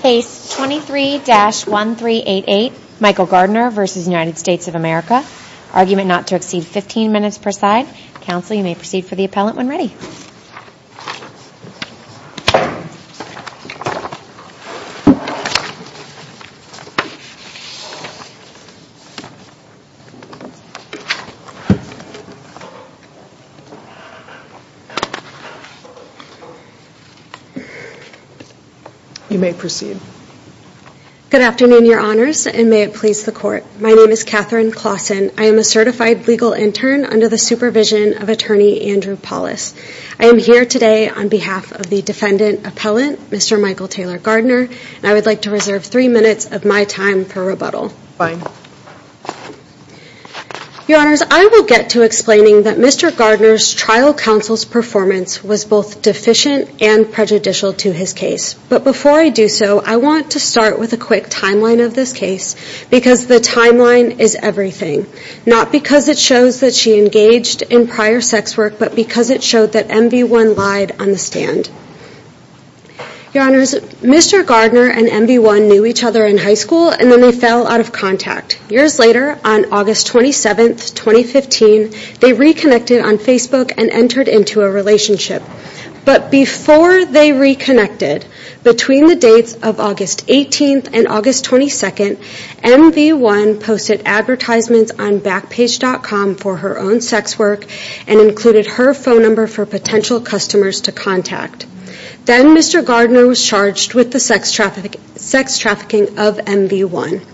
Case 23-1388, Michael Gardner v. United States of America. Argument not to exceed 15 minutes per side. Counsel, you may proceed for the appellant when ready. You may proceed. Good afternoon, your honors, and may it please the court. My name is Katherine Claussen. I am a certified legal intern under the supervision of attorney Andrew Paulus. I am here today on behalf of the defendant appellant, Mr. Michael Taylor Gardner, and I would like to reserve three minutes of my time for rebuttal. Your honors, I will get to explaining that Mr. Gardner's trial counsel's performance was both deficient and prejudicial to his case. But before I do so, I want to start with a quick timeline of this case because the timeline is everything. Not because it shows that she engaged in prior sex work, but because it showed that MV1 lied on the stand. Your honors, Mr. Gardner and MV1 knew each other in high school and then they fell out of contact. Years later, on August 27, 2015, they reconnected on Facebook and entered into a relationship. But before they reconnected, between the dates of August 18th and August 22nd, MV1 posted advertisements on Backpage.com for her own sex work and included her phone number for potential customers to contact. Then Mr. Gardner was charged with the sex trafficking of MV1.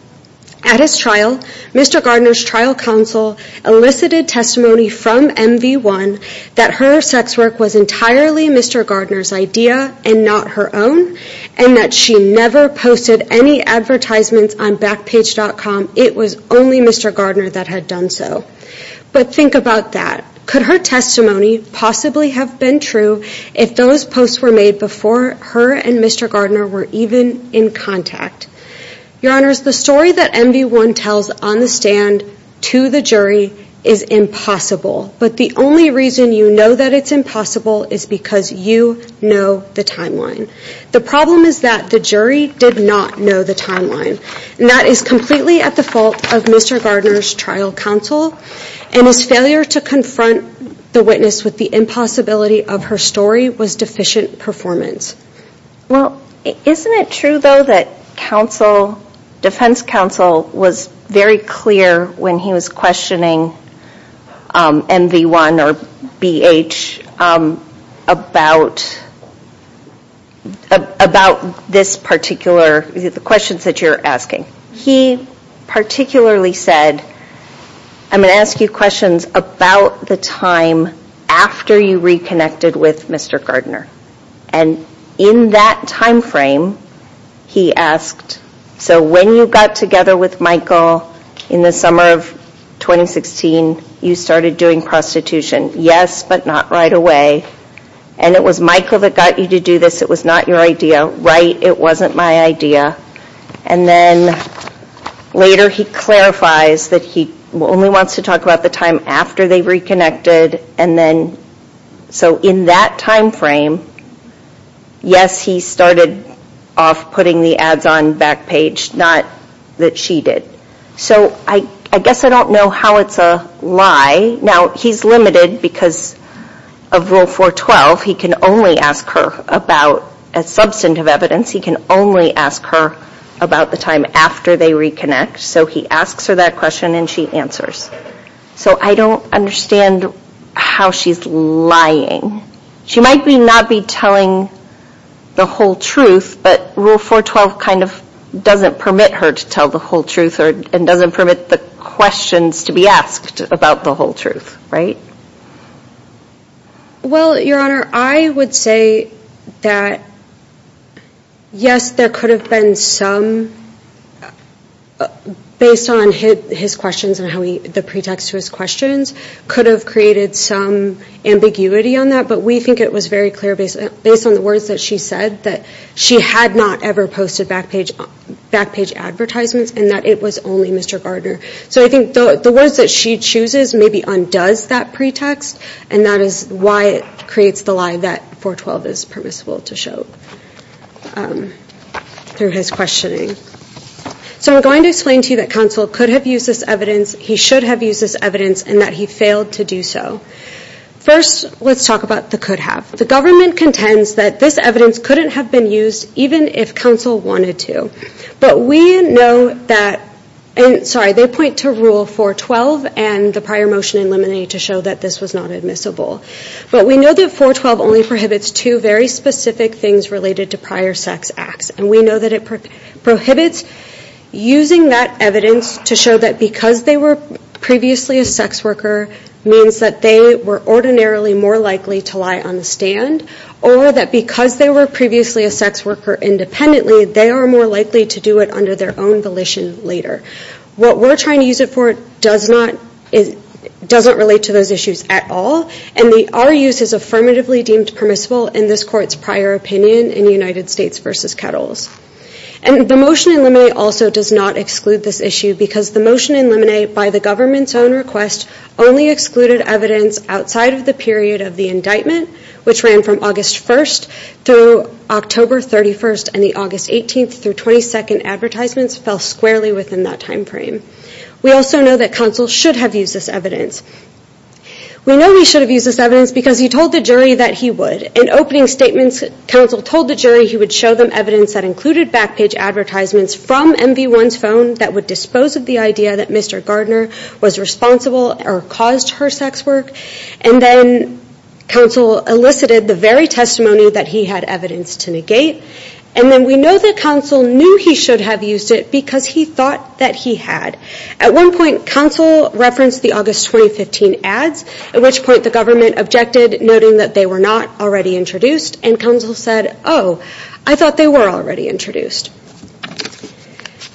At his trial, Mr. Gardner's trial counsel elicited testimony from MV1 that her sex work was entirely Mr. Gardner's idea and not her own, and that she never posted any advertisements on Backpage.com. It was only Mr. Gardner that had done so. But think about that. Could her testimony possibly have been true if those posts were made before her and Mr. Gardner were even in contact? Your honors, the story that MV1 tells on the stand to the jury is impossible. But the only reason you know that it's impossible is because you know the timeline. The problem is that the jury did not know the timeline, and that is completely at the fault of Mr. Gardner's trial counsel, and his failure to confront the witness with the impossibility of her story was deficient performance. Well, isn't it true, though, that defense counsel was very clear when he was questioning MV1 or BH about this particular, the questions that you're asking? He particularly said, I'm going to ask you questions about the time after you reconnected with Mr. Gardner. And in that time frame, he asked, so when you got together with Michael in the summer of 2016, you started doing prostitution. Yes, but not right away. And it was Michael that got you to do this. It was not your idea. Right, it wasn't my idea. And then later he clarifies that he only wants to talk about the time after they reconnected, and then, so in that time frame, yes, he started off putting the ads on Backpage, not that she did. So I guess I don't know how it's a lie. Now, he's limited because of Rule 412. He can only ask her about, as substantive evidence, he can only ask her about the time after they reconnect. So he asks her that question, and she answers. So I don't understand how she's lying. She might not be telling the whole truth, but Rule 412 kind of doesn't permit her to tell the whole truth, and doesn't permit the questions to be asked about the whole truth, right? Well, Your Honor, I would say that, yes, there could have been some, based on his questions and the pretext to his questions, could have created some ambiguity on that. But we think it was very clear, based on the words that she said, that she had not ever posted Backpage advertisements, and that it was only Mr. Gardner. So I think the words that she chooses maybe undoes that pretext, and that is why it creates the lie that 412 is permissible to show through his questioning. So I'm going to explain to you that counsel could have used this evidence, he should have used this evidence, and that he failed to do so. First, let's talk about the could have. The government contends that this evidence couldn't have been used, even if counsel wanted to. But we know that, sorry, they point to Rule 412 and the prior motion in limine to show that this was not admissible. But we know that 412 only prohibits two very specific things related to prior sex acts, and we know that it prohibits using that evidence to show that because they were previously a sex worker means that they were ordinarily more likely to lie on the stand, or that because they were previously a sex worker independently, they are more likely to do it under their own volition later. What we're trying to use it for doesn't relate to those issues at all, and our use is affirmatively deemed permissible in this court's prior opinion in United States v. Kettles. And the motion in limine also does not exclude this issue, because the motion in limine, by the government's own request, only excluded evidence outside of the period of the indictment, which ran from August 1st through October 31st, and the August 18th through 22nd advertisements fell squarely within that time frame. We also know that counsel should have used this evidence. We know he should have used this evidence because he told the jury that he would. In opening statements, counsel told the jury he would show them evidence that included back page advertisements from MV1's phone that would dispose of the idea that Mr. Gardner was responsible or caused her sex work, and then counsel elicited the very testimony that he had evidence to negate. And then we know that counsel knew he should have used it because he thought that he had. At one point, counsel referenced the August 2015 ads, at which point the government objected, noting that they were not already introduced, and counsel said, oh, I thought they were already introduced.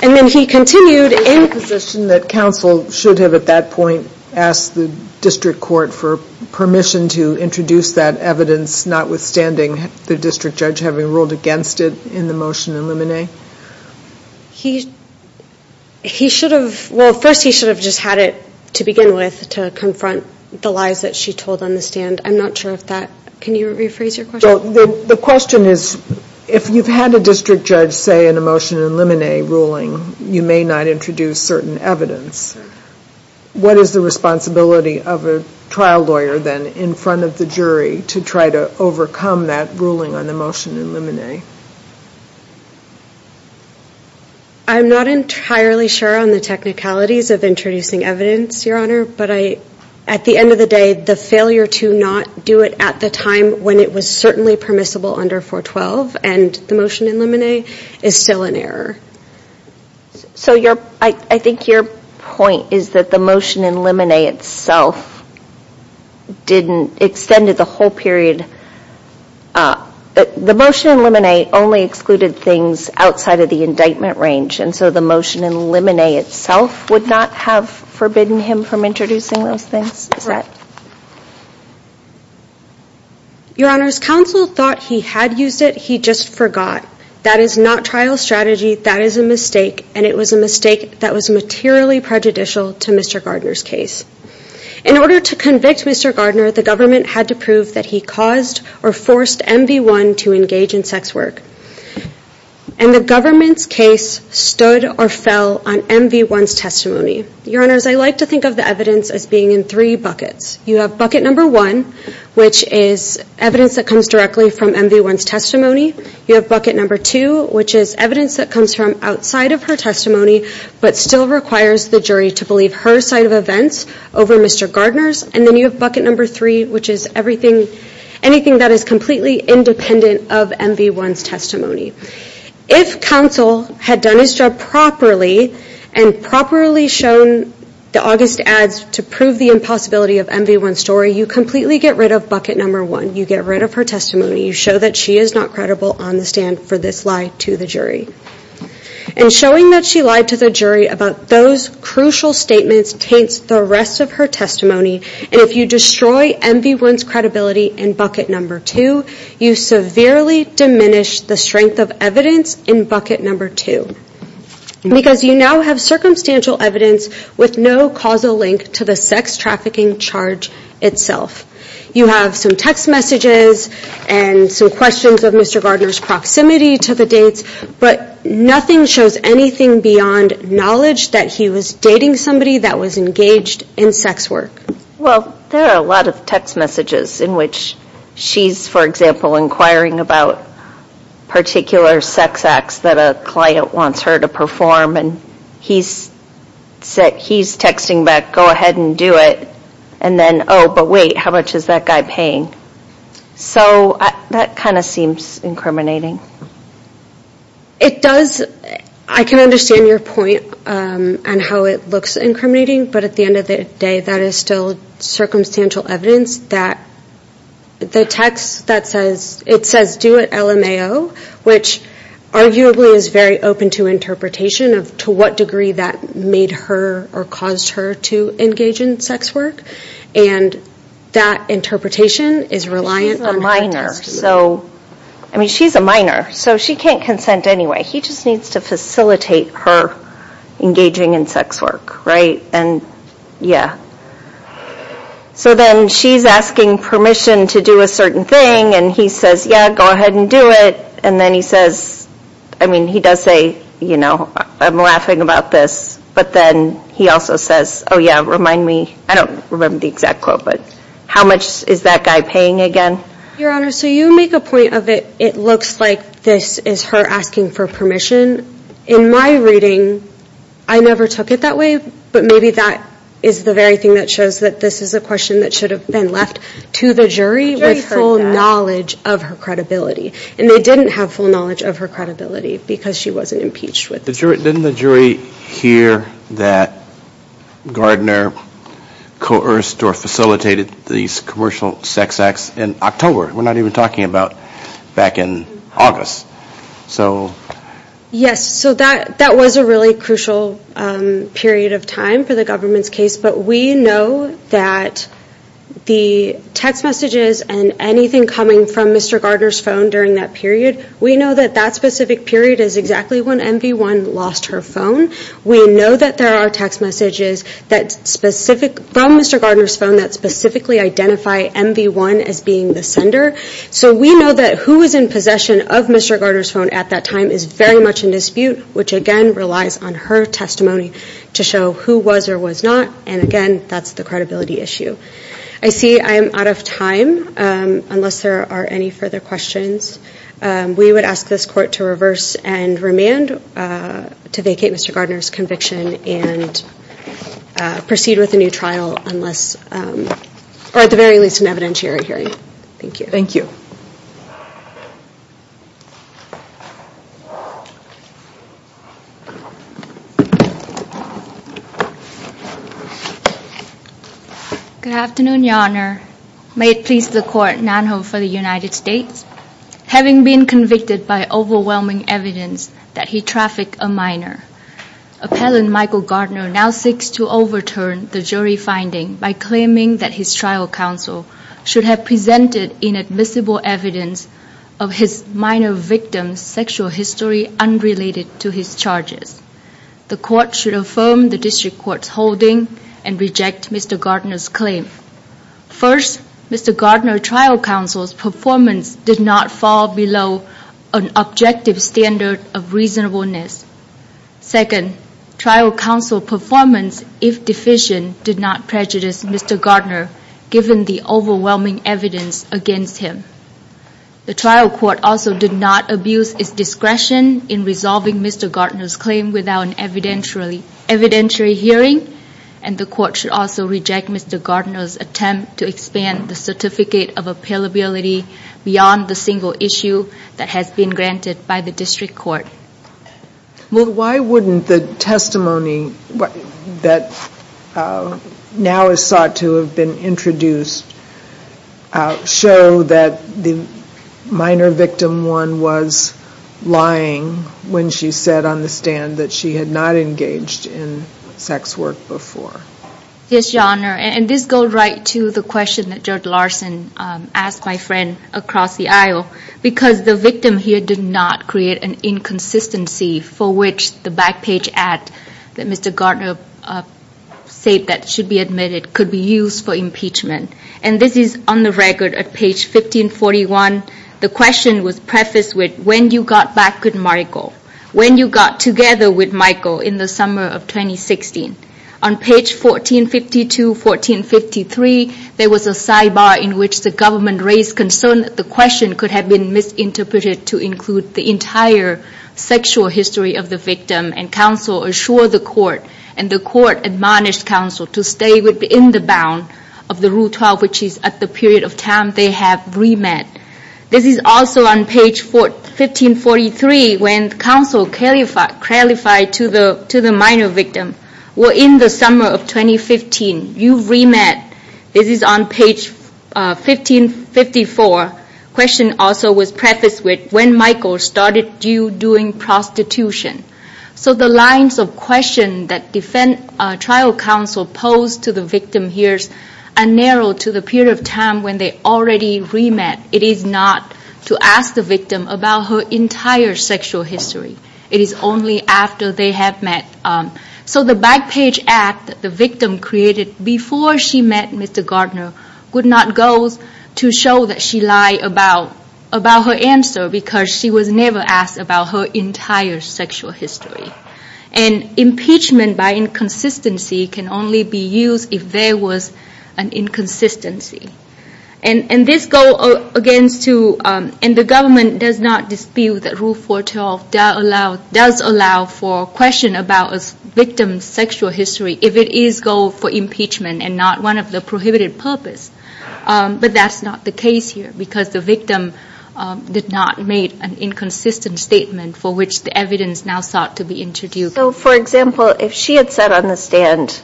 And then he continued in... Is it your position that counsel should have, at that point, asked the district court for permission to introduce that evidence, notwithstanding the district judge having ruled against it in the motion in limine? He should have... Well, first he should have just had it to begin with, to confront the lies that she told on the stand. I'm not sure if that... Can you rephrase your question? The question is, if you've had a district judge say in a motion in limine ruling, you may not introduce certain evidence, what is the responsibility of a trial lawyer then in front of the jury to try to overcome that ruling on the motion in limine? I'm not entirely sure on the technicalities of introducing evidence, Your Honor, but I... At the end of the day, the failure to not do it at the time when it was certainly permissible under 412, and the motion in limine, is still an error. So your... I think your point is that the motion in limine itself didn't... Extended the whole period... The motion in limine only excluded things outside of the indictment range, and so the motion in limine itself would not have forbidden him from introducing those things, is that... Your Honor, his counsel thought he had used it, he just forgot. That is not trial strategy, that is a mistake, and it was a mistake that was materially prejudicial to Mr. Gardner's case. In order to convict Mr. Gardner, the government had to prove that he caused or forced MV1 to engage in sex work. And the government's case stood or fell on MV1's testimony. Your Honors, I like to think of the evidence as being in three buckets. You have bucket number one, which is evidence that comes directly from MV1's testimony. You have bucket number two, which is evidence that comes from outside of her testimony, but still requires the jury to believe her side of events over Mr. Gardner's. And then you have bucket number three, which is everything, anything that is completely independent of MV1's testimony. If counsel had done his job properly, and properly shown the August ads to prove the impossibility of MV1's story, you completely get rid of bucket number one. You get rid of her testimony, you show that she is not credible on the stand for this lie to the jury. And showing that she lied to the jury about those crucial statements taints the rest of her testimony. And if you destroy MV1's credibility in bucket number two, you severely diminish the strength of evidence in bucket number two. Because you now have circumstantial evidence with no causal link to the sex trafficking charge itself. You have some text messages and some questions of Mr. Gardner's proximity to the dates, but nothing shows anything beyond knowledge that he was dating somebody that was engaged in sex work. Well, there are a lot of text messages in which she's, for example, inquiring about particular sex acts that a client wants her to perform. And he's texting back, go ahead and do it. And then, oh, but wait, how much is that guy paying? So that kind of seems incriminating. It does. I can understand your point on how it looks incriminating. But at the end of the day, that is still circumstantial evidence that the text that says, it says do it LMAO, which arguably is very open to interpretation of to what degree that made her or caused her to engage in sex work. And that interpretation is reliant on her testimony. So, I mean, she's a minor. So she can't consent anyway. He just needs to facilitate her engaging in sex work, right? And yeah. So then she's asking permission to do a certain thing. And he says, yeah, go ahead and do it. And then he says, I mean, he does say, you know, I'm laughing about this. But then he also says, oh, yeah, remind me. I don't remember the exact quote, but how much is that guy paying again? Your Honor, so you make a point of it. It looks like this is her asking for permission. In my reading, I never took it that way. But maybe that is the very thing that shows that this is a question that should have been left to the jury with full knowledge of her credibility. And they didn't have full knowledge of her credibility because she wasn't impeached with it. Didn't the jury hear that Gardner coerced or facilitated these commercial sex acts in October? We're not even talking about back in August. Yes, so that was a really crucial period of time for the government's case. But we know that the text messages and anything coming from Mr. Gardner's phone during that period, we know that that specific period is exactly when MV1 lost her phone. We know that there are text messages from Mr. Gardner's phone that specifically identify MV1 as being the sender. So we know that who was in possession of Mr. Gardner's phone at that time is very much in dispute, which again relies on her testimony to show who was or was not. And again, that's the credibility issue. I see I am out of time, unless there are any further questions. We would ask this court to reverse and remand to vacate Mr. Gardner's conviction and proceed with a new trial unless, or at the very least an evidentiary hearing. Thank you. Thank you. Good afternoon, Your Honor. May it please the court, Nan Ho for the United States. Having been convicted by overwhelming evidence that he trafficked a minor, appellant Michael Gardner now seeks to overturn the jury finding by claiming that his trial counsel should have presented inadmissible evidence of his minor victim's sexual history unrelated to his charges. The court should affirm the district court's holding and reject Mr. Gardner's claim. First, Mr. Gardner's trial counsel's performance did not fall below an objective standard of reasonableness. Second, trial counsel performance, if deficient, did not prejudice Mr. Gardner given the overwhelming evidence against him. The trial court also did not abuse its discretion in resolving Mr. Gardner's claim without an evidentiary hearing. And the court should also reject Mr. Gardner's attempt to expand the certificate of appealability beyond the single issue that has been granted by the district court. Well, why wouldn't the testimony that now is sought to have been introduced show that the minor victim one was lying when she said on the stand that she had not engaged in sex work before? Yes, Your Honor, and this goes right to the question that Judge Larson asked my friend across the aisle. Because the victim here did not create an inconsistency for which the back page ad that Mr. Gardner said that should be admitted could be used for impeachment. And this is on the record at page 1541. The question was prefaced with when you got back with Michael, when you got together with Michael in the summer of 2016. On page 1452, 1453, there was a sidebar in which the government raised concern that the question could have been misinterpreted to include the entire sexual history of the victim. And counsel assured the court, and the court admonished counsel to stay within the bound of the Rule 12, which is at the period of time they have remand. This is also on page 1543, when counsel clarified to the minor victim, well, in the summer of 2015, you've remanded. This is on page 1554, question also was prefaced with when Michael started you doing prostitution. So the lines of question that trial counsel posed to the victim here are narrowed to the period of time when they already remanded. It is not to ask the victim about her entire sexual history. It is only after they have met. So the back page ad that the victim created before she met Mr. Gardner would not go to show that she lied about her answer, because she was never asked about her entire sexual history. And impeachment by inconsistency can only be used if there was an inconsistency. And this goes against to, and the government does not dispute that Rule 412 does allow for question about a victim's sexual history if it is goal for impeachment and not one of the prohibited purpose. But that's not the case here, because the victim did not make an inconsistent statement for which the evidence now sought to be introduced. So for example, if she had said on the stand,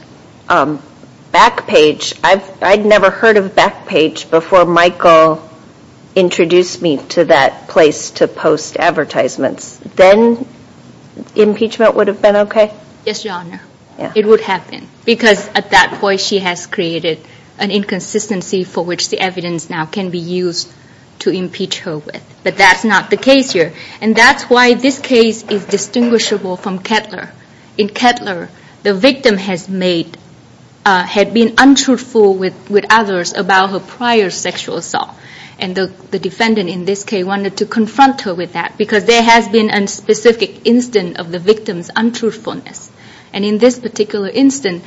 back page, I'd never heard of back page before Michael introduced me to that place to post advertisements, then impeachment would have been okay? Yes, Your Honor. It would have been, because at that point she has created an inconsistency for which the evidence now can be used to impeach her with. But that's not the case here. And that's why this case is distinguishable from Kettler. In Kettler, the victim had been untruthful with others about her prior sexual assault. And the defendant in this case wanted to confront her with that, because there has been a specific instance of the victim's untruthfulness. And in this particular instance,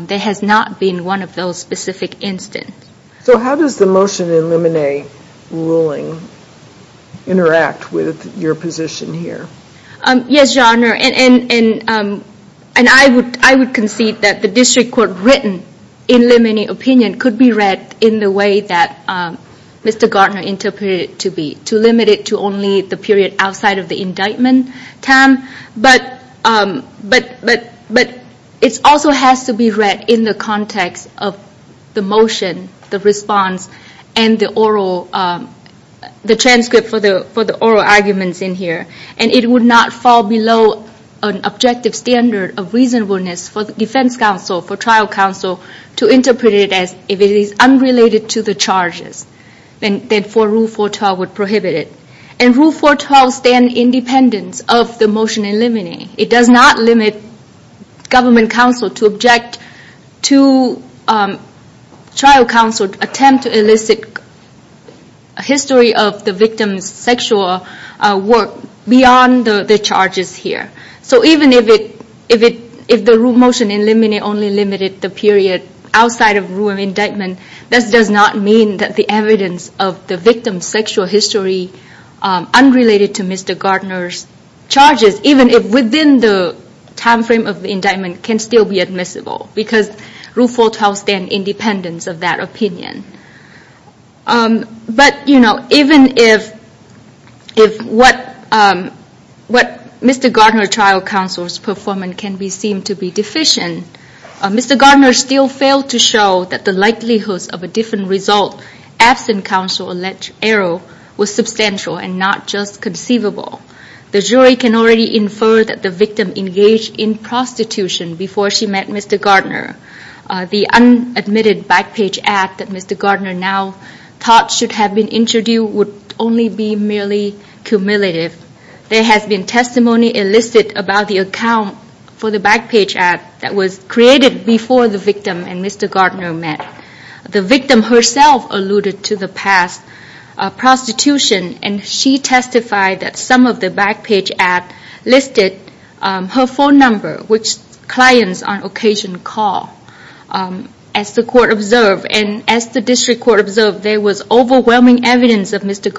there has not been one of those specific instances. So how does the motion in Lemonnier ruling interact with your position here? Yes, Your Honor. And I would concede that the district court written in Lemonnier opinion could be read in the way that Mr. Gartner interpreted it to be, to limit it to only the period outside of the indictment time. But it also has to be read in the context of the motion, the response, and the transcript for the oral arguments in here. And it would not fall below an objective standard of reasonableness for the defense counsel, for trial counsel to interpret it as if it is unrelated to the charges, then for rule 412 would prohibit it. And rule 412 stands independent of the motion in Lemonnier. It does not limit government counsel to object to trial counsel's attempt to elicit a history of the victim's sexual work beyond the charges here. So even if the motion in Lemonnier only limited the period outside of rule of indictment, that does not mean that the evidence of the victim's sexual history unrelated to Mr. Gartner's charges, even if within the time frame of the indictment, can still be admissible. Because rule 412 stands independent of that opinion. But even if what Mr. Gartner trial counsel's performance can seem to be deficient, Mr. Gartner still failed to show that the likelihood of a different result absent counsel alleged error was substantial and not just conceivable. The jury can already infer that the victim engaged in prostitution before she met Mr. Gartner. The unadmitted back page act that Mr. Gartner now thought should have been introduced would only be merely cumulative. There has been testimony elicited about the account for the back page act that was created before the victim and Mr. Gartner met. The victim herself alluded to the past prostitution and she testified that some of the back page act listed her phone number, which clients on occasion call as the court observed. And as the district court observed, there was overwhelming evidence of Mr.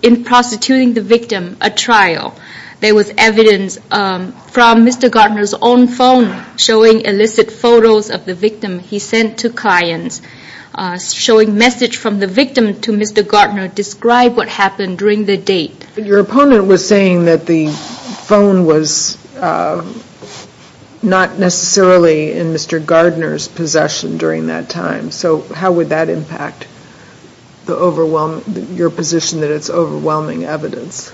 In prostituting the victim at trial, there was evidence from Mr. Gartner's own phone showing illicit photos of the victim he sent to clients. Showing message from the victim to Mr. Gartner described what happened during the date. Your opponent was saying that the phone was not necessarily in Mr. Gartner's possession during that time. So how would that impact your position that it's overwhelming evidence?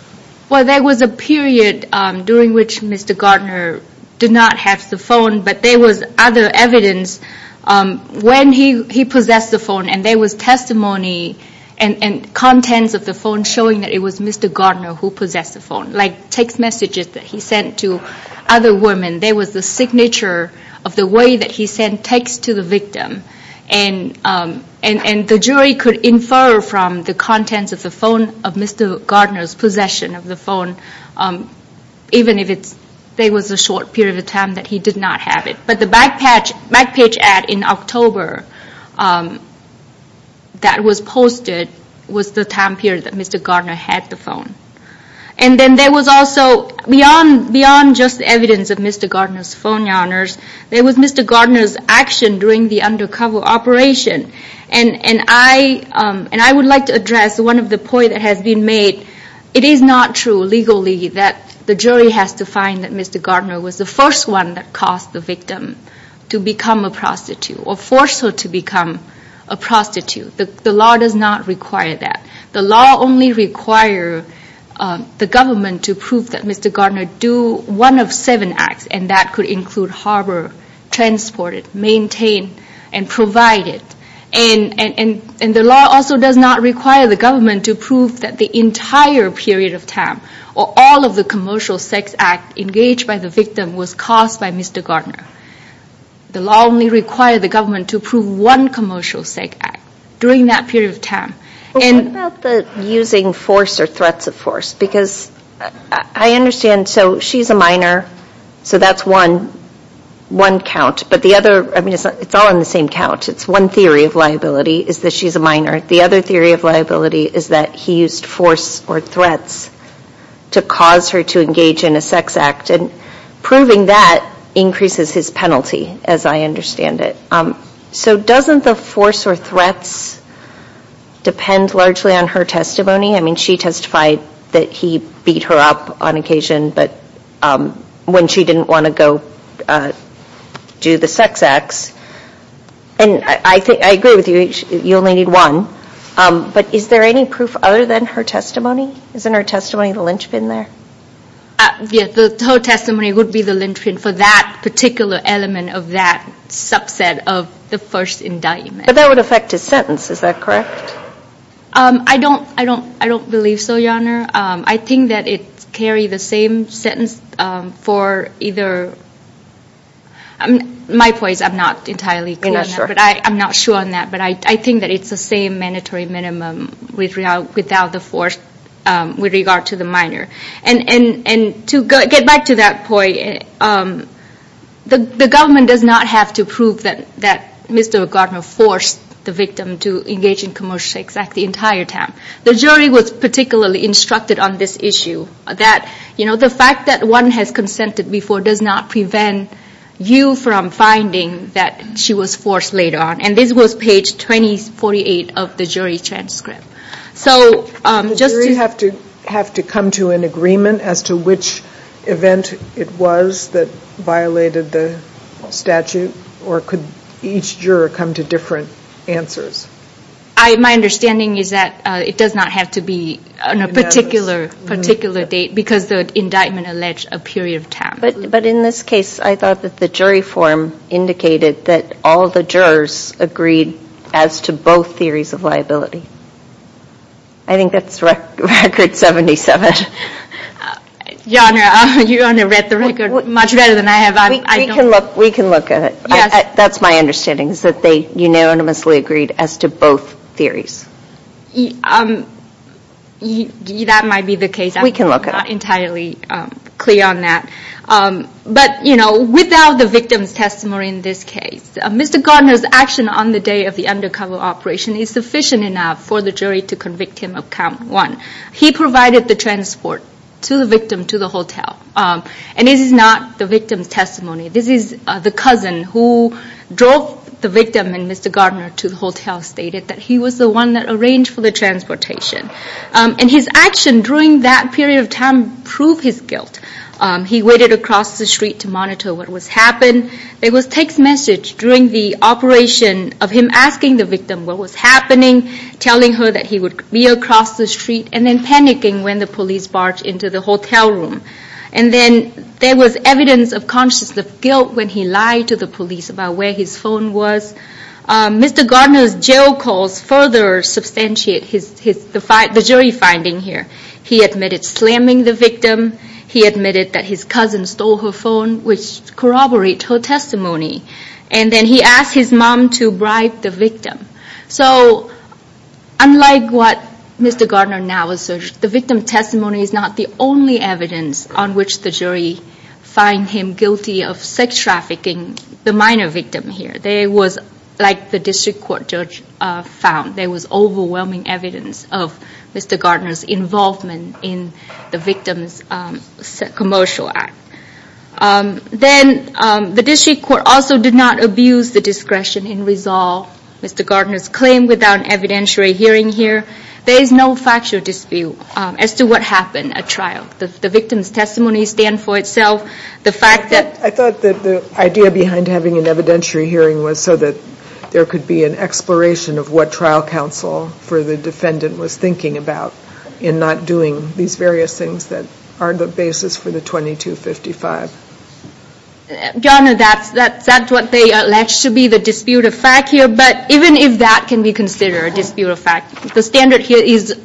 Well, there was a period during which Mr. Gartner did not have the phone, but there was other evidence when he possessed the phone. And there was testimony and contents of the phone showing that it was Mr. Gartner who possessed the phone, like text messages that he sent to other women. There was the signature of the way that he sent text to the victim. And the jury could infer from the contents of the phone of Mr. Gartner's possession of the phone, even if it was a short period of time that he did not have it. But the back page ad in October that was posted was the time period that Mr. Gartner had the phone. And then there was also, beyond just evidence of Mr. Gartner's phone numbers, there was Mr. Gartner's action during the undercover operation. And I would like to address one of the points that has been made. It is not true legally that the jury has to find that Mr. Gartner was the first one that caused the victim to become a prostitute or forced her to become a prostitute. The law does not require that. The law only require the government to prove that Mr. And that could include harbor, transport it, maintain and provide it. And the law also does not require the government to prove that the entire period of time or all of the commercial sex act engaged by the victim was caused by Mr. Gartner. The law only require the government to prove one commercial sex act during that period of time. And using force or threats of force, because I understand, so she's a minor. So that's one count, but the other, I mean, it's all in the same count. It's one theory of liability, is that she's a minor. The other theory of liability is that he used force or threats to cause her to engage in a sex act. And proving that increases his penalty, as I understand it. So doesn't the force or threats depend largely on her testimony? I mean, she testified that he beat her up on occasion, but when she didn't want to go do the sex acts. And I agree with you, you only need one. But is there any proof other than her testimony? Isn't her testimony the linchpin there? Yeah, her testimony would be the linchpin for that particular element of that subset of the first indictment. But that would affect his sentence, is that correct? I don't believe so, Your Honor. I think that it's carry the same sentence for either. My point is I'm not entirely clear on that. I'm not sure on that. But I think that it's the same mandatory minimum without the force with regard to the minor. And to get back to that point, the government does not have to prove that Mr. Gardner forced the victim to engage in commercial sex act the entire time. The jury was particularly instructed on this issue. That the fact that one has consented before does not prevent you from finding that she was forced later on. And this was page 2048 of the jury transcript. So just to- Did the jury have to come to an agreement as to which event it was that violated the statute, or could each juror come to different answers? My understanding is that it does not have to be on a particular date, because the indictment alleged a period of time. But in this case, I thought that the jury form indicated that all the jurors agreed as to both theories of liability. I think that's record 77. Your Honor, you only read the record much better than I have. We can look at it. That's my understanding, is that they unanimously agreed as to both theories. That might be the case. We can look at it. I'm not entirely clear on that. But without the victim's testimony in this case, Mr. Gardner's action on the day of the undercover operation is sufficient enough for the jury to convict him of count one. He provided the transport to the victim to the hotel. And this is not the victim's testimony. This is the cousin who drove the victim and Mr. Gardner to the hotel, stated that he was the one that arranged for the transportation. And his action during that period of time proved his guilt. He waited across the street to monitor what was happened. There was text message during the operation of him asking the victim what was happening, telling her that he would be across the street, and then panicking when the police barged into the hotel room. And then there was evidence of conscience of guilt when he lied to the police about where his phone was. Mr. Gardner's jail calls further substantiate the jury finding here. He admitted slamming the victim. He admitted that his cousin stole her phone, which corroborate her testimony. And then he asked his mom to bribe the victim. So unlike what Mr. Gardner now asserts, the victim's testimony is not the only evidence on which the jury find him guilty of sex trafficking the minor victim here. There was, like the district court judge found, there was overwhelming evidence of Mr. Gardner's involvement in the victim's commercial act. Then the district court also did not abuse the discretion and resolve Mr. Gardner's claim without an evidentiary hearing here. There is no factual dispute as to what happened at trial. The victim's testimony stands for itself. The fact that- I thought that the idea behind having an evidentiary hearing was so that there could be an exploration of what trial counsel for the defendant was thinking about in not doing these various things that are the basis for the 2255. Donna, that's what they alleged to be the disputed fact here. But even if that can be considered a disputed fact, the standard here is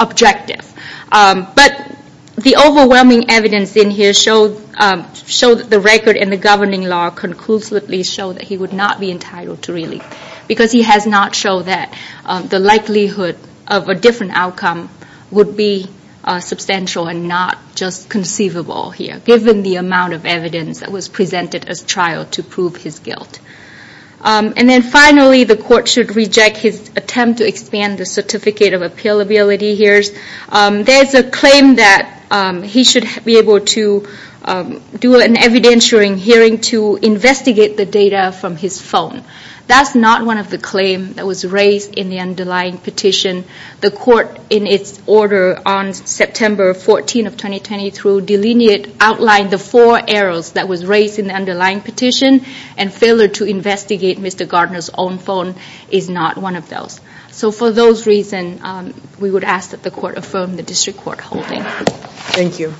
objective. But the overwhelming evidence in here showed that the record and the governing law conclusively show that he would not be entitled to release. Because he has not shown that the likelihood of a different outcome would be substantial and not just conceivable here. Given the amount of evidence that was presented as trial to prove his guilt. And then finally, the court should reject his attempt to expand the certificate of appealability here. There's a claim that he should be able to do an evidentiary hearing to investigate the data from his phone. That's not one of the claims that was raised in the underlying petition. The court in its order on September 14 of 2020 through delineate outlined the four arrows that was raised in the underlying petition. And failure to investigate Mr. Gardner's own phone is not one of those. So for those reasons, we would ask that the court affirm the district court holding. Thank you.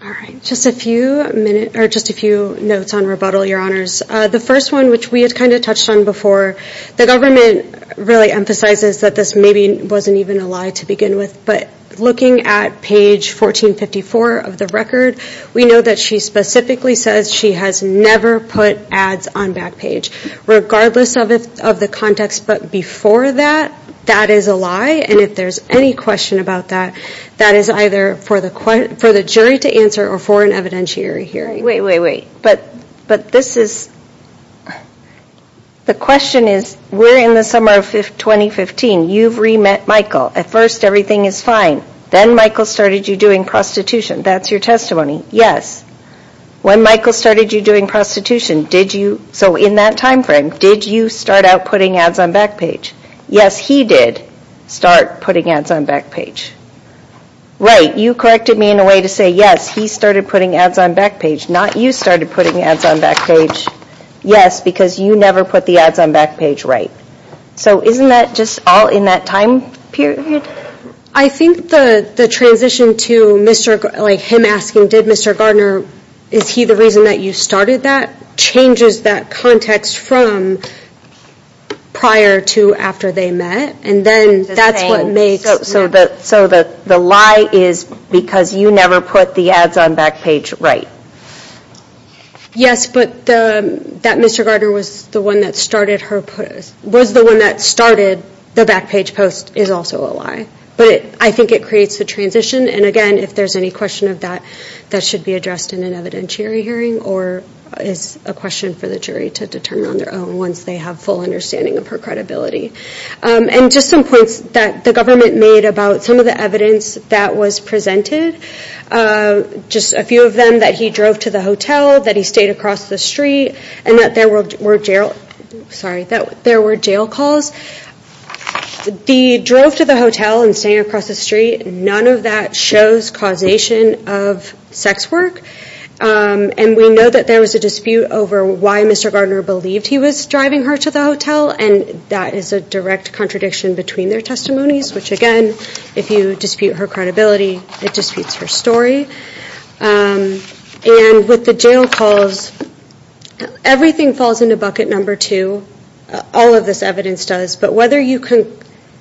All right, just a few minutes or just a few notes on rebuttal, your honors. The first one, which we had kind of touched on before, the government really emphasizes that this maybe wasn't even a lie to begin with. But looking at page 1454 of the record, we know that she specifically says she has never put ads on back page. Regardless of the context. But before that, that is a lie. And if there's any question about that, that is either for the jury to answer or for an evidentiary hearing. Wait, wait, wait. But this is, the question is, we're in the summer of 2015. You've re-met Michael. At first everything is fine. Then Michael started you doing prostitution. That's your testimony. Yes. When Michael started you doing prostitution, did you, so in that time frame, did you start out putting ads on back page? Yes, he did start putting ads on back page. Right. You corrected me in a way to say yes, he started putting ads on back page. Not you started putting ads on back page. Yes, because you never put the ads on back page right. So isn't that just all in that time period? I think the transition to him asking, did Mr. Gardner, is he the reason that you started that, changes that context from prior to after they met. And then that's what makes. So the lie is because you never put the ads on back page right. Yes, but that Mr. Gardner was the one that started her, was the one that started the back page post is also a lie. But I think it creates the transition. And again, if there's any question of that, that should be addressed in an evidentiary hearing or is a question for the jury to determine on their own once they have full understanding of her credibility. And just some points that the government made about some of the evidence that was presented, just a few of them that he drove to the hotel, that he stayed across the street, and that there were jail, sorry, that there were jail calls. The drove to the hotel and staying across the street, none of that shows causation of sex work. And we know that there was a dispute over why Mr. Gardner believed he was driving her to the hotel. And that is a direct contradiction between their testimonies, which again, if you dispute her credibility, it disputes her story. And with the jail calls, everything falls into bucket number two, all of this evidence does. But whether you can,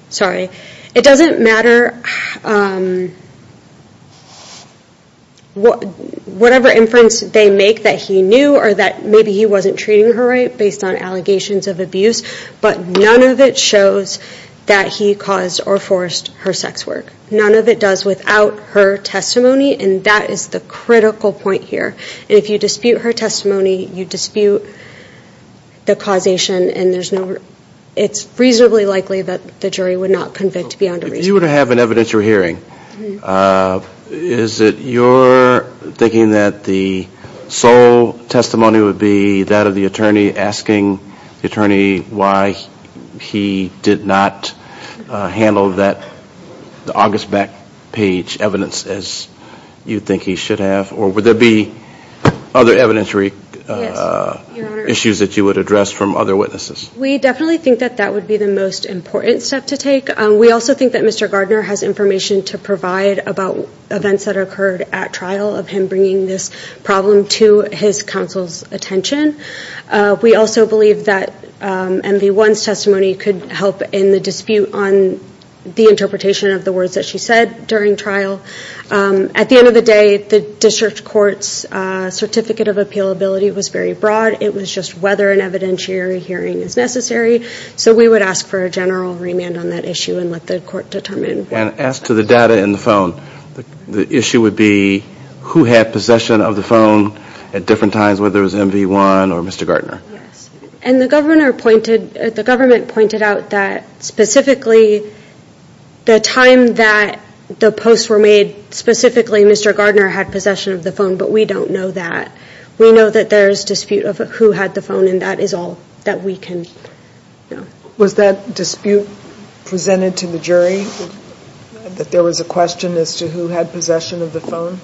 sorry, it doesn't matter whatever inference they make that he knew or that maybe he wasn't treating her right based on allegations of abuse, but none of it shows that he caused or forced her sex work. None of it does without her testimony, and that is the critical point here. And if you dispute her testimony, you dispute the causation, and it's reasonably likely that the jury would not convict beyond a reasonable- If you were to have an evidentiary hearing, is it your thinking that the sole testimony would be that of the attorney asking the attorney why he did not handle that August back page evidence as you think he should have, or would there be other evidentiary issues that you would address from other witnesses? We definitely think that that would be the most important step to take. We also think that Mr. Gardner has information to provide about events that occurred at trial of him bringing this problem to his counsel's attention. We also believe that MV1's testimony could help in the dispute on the interpretation of the words that she said during trial. At the end of the day, the district court's certificate of appealability was very broad. It was just whether an evidentiary hearing is necessary. So we would ask for a general remand on that issue and let the court determine. And as to the data in the phone, the issue would be who had possession of the phone at different times, whether it was MV1 or Mr. Gardner. And the government pointed out that specifically the time that the posts were made specifically, Mr. Gardner had possession of the phone, but we don't know that. We know that there's dispute of who had the phone and that is all that we can know. Was that dispute presented to the jury, that there was a question as to who had possession of the phone?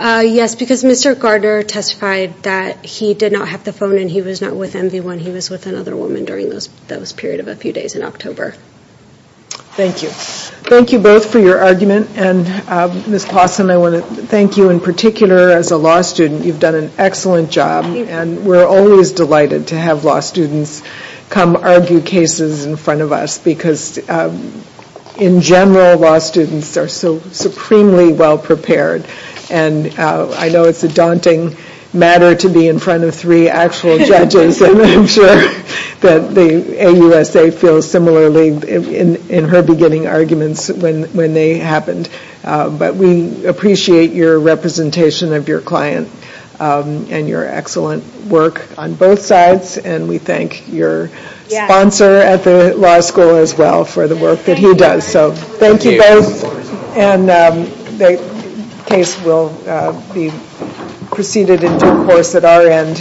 Yes, because Mr. Gardner testified that he did not have the phone and he was not with MV1. He was with another woman during those period of a few days in October. Thank you. Thank you both for your argument. And Ms. Claussen, I want to thank you in particular as a law student. You've done an excellent job and we're always delighted to have law students come argue cases in front of us because in general, law students are so supremely well prepared. And I know it's a daunting matter to be in front of three actual judges and I'm sure that the AUSA feels similarly in her beginning arguments when they happened. But we appreciate your representation of your client and your excellent work on both sides and we thank your sponsor at the law school as well for the work that he does. So thank you both and the case will be proceeded in due course at our end.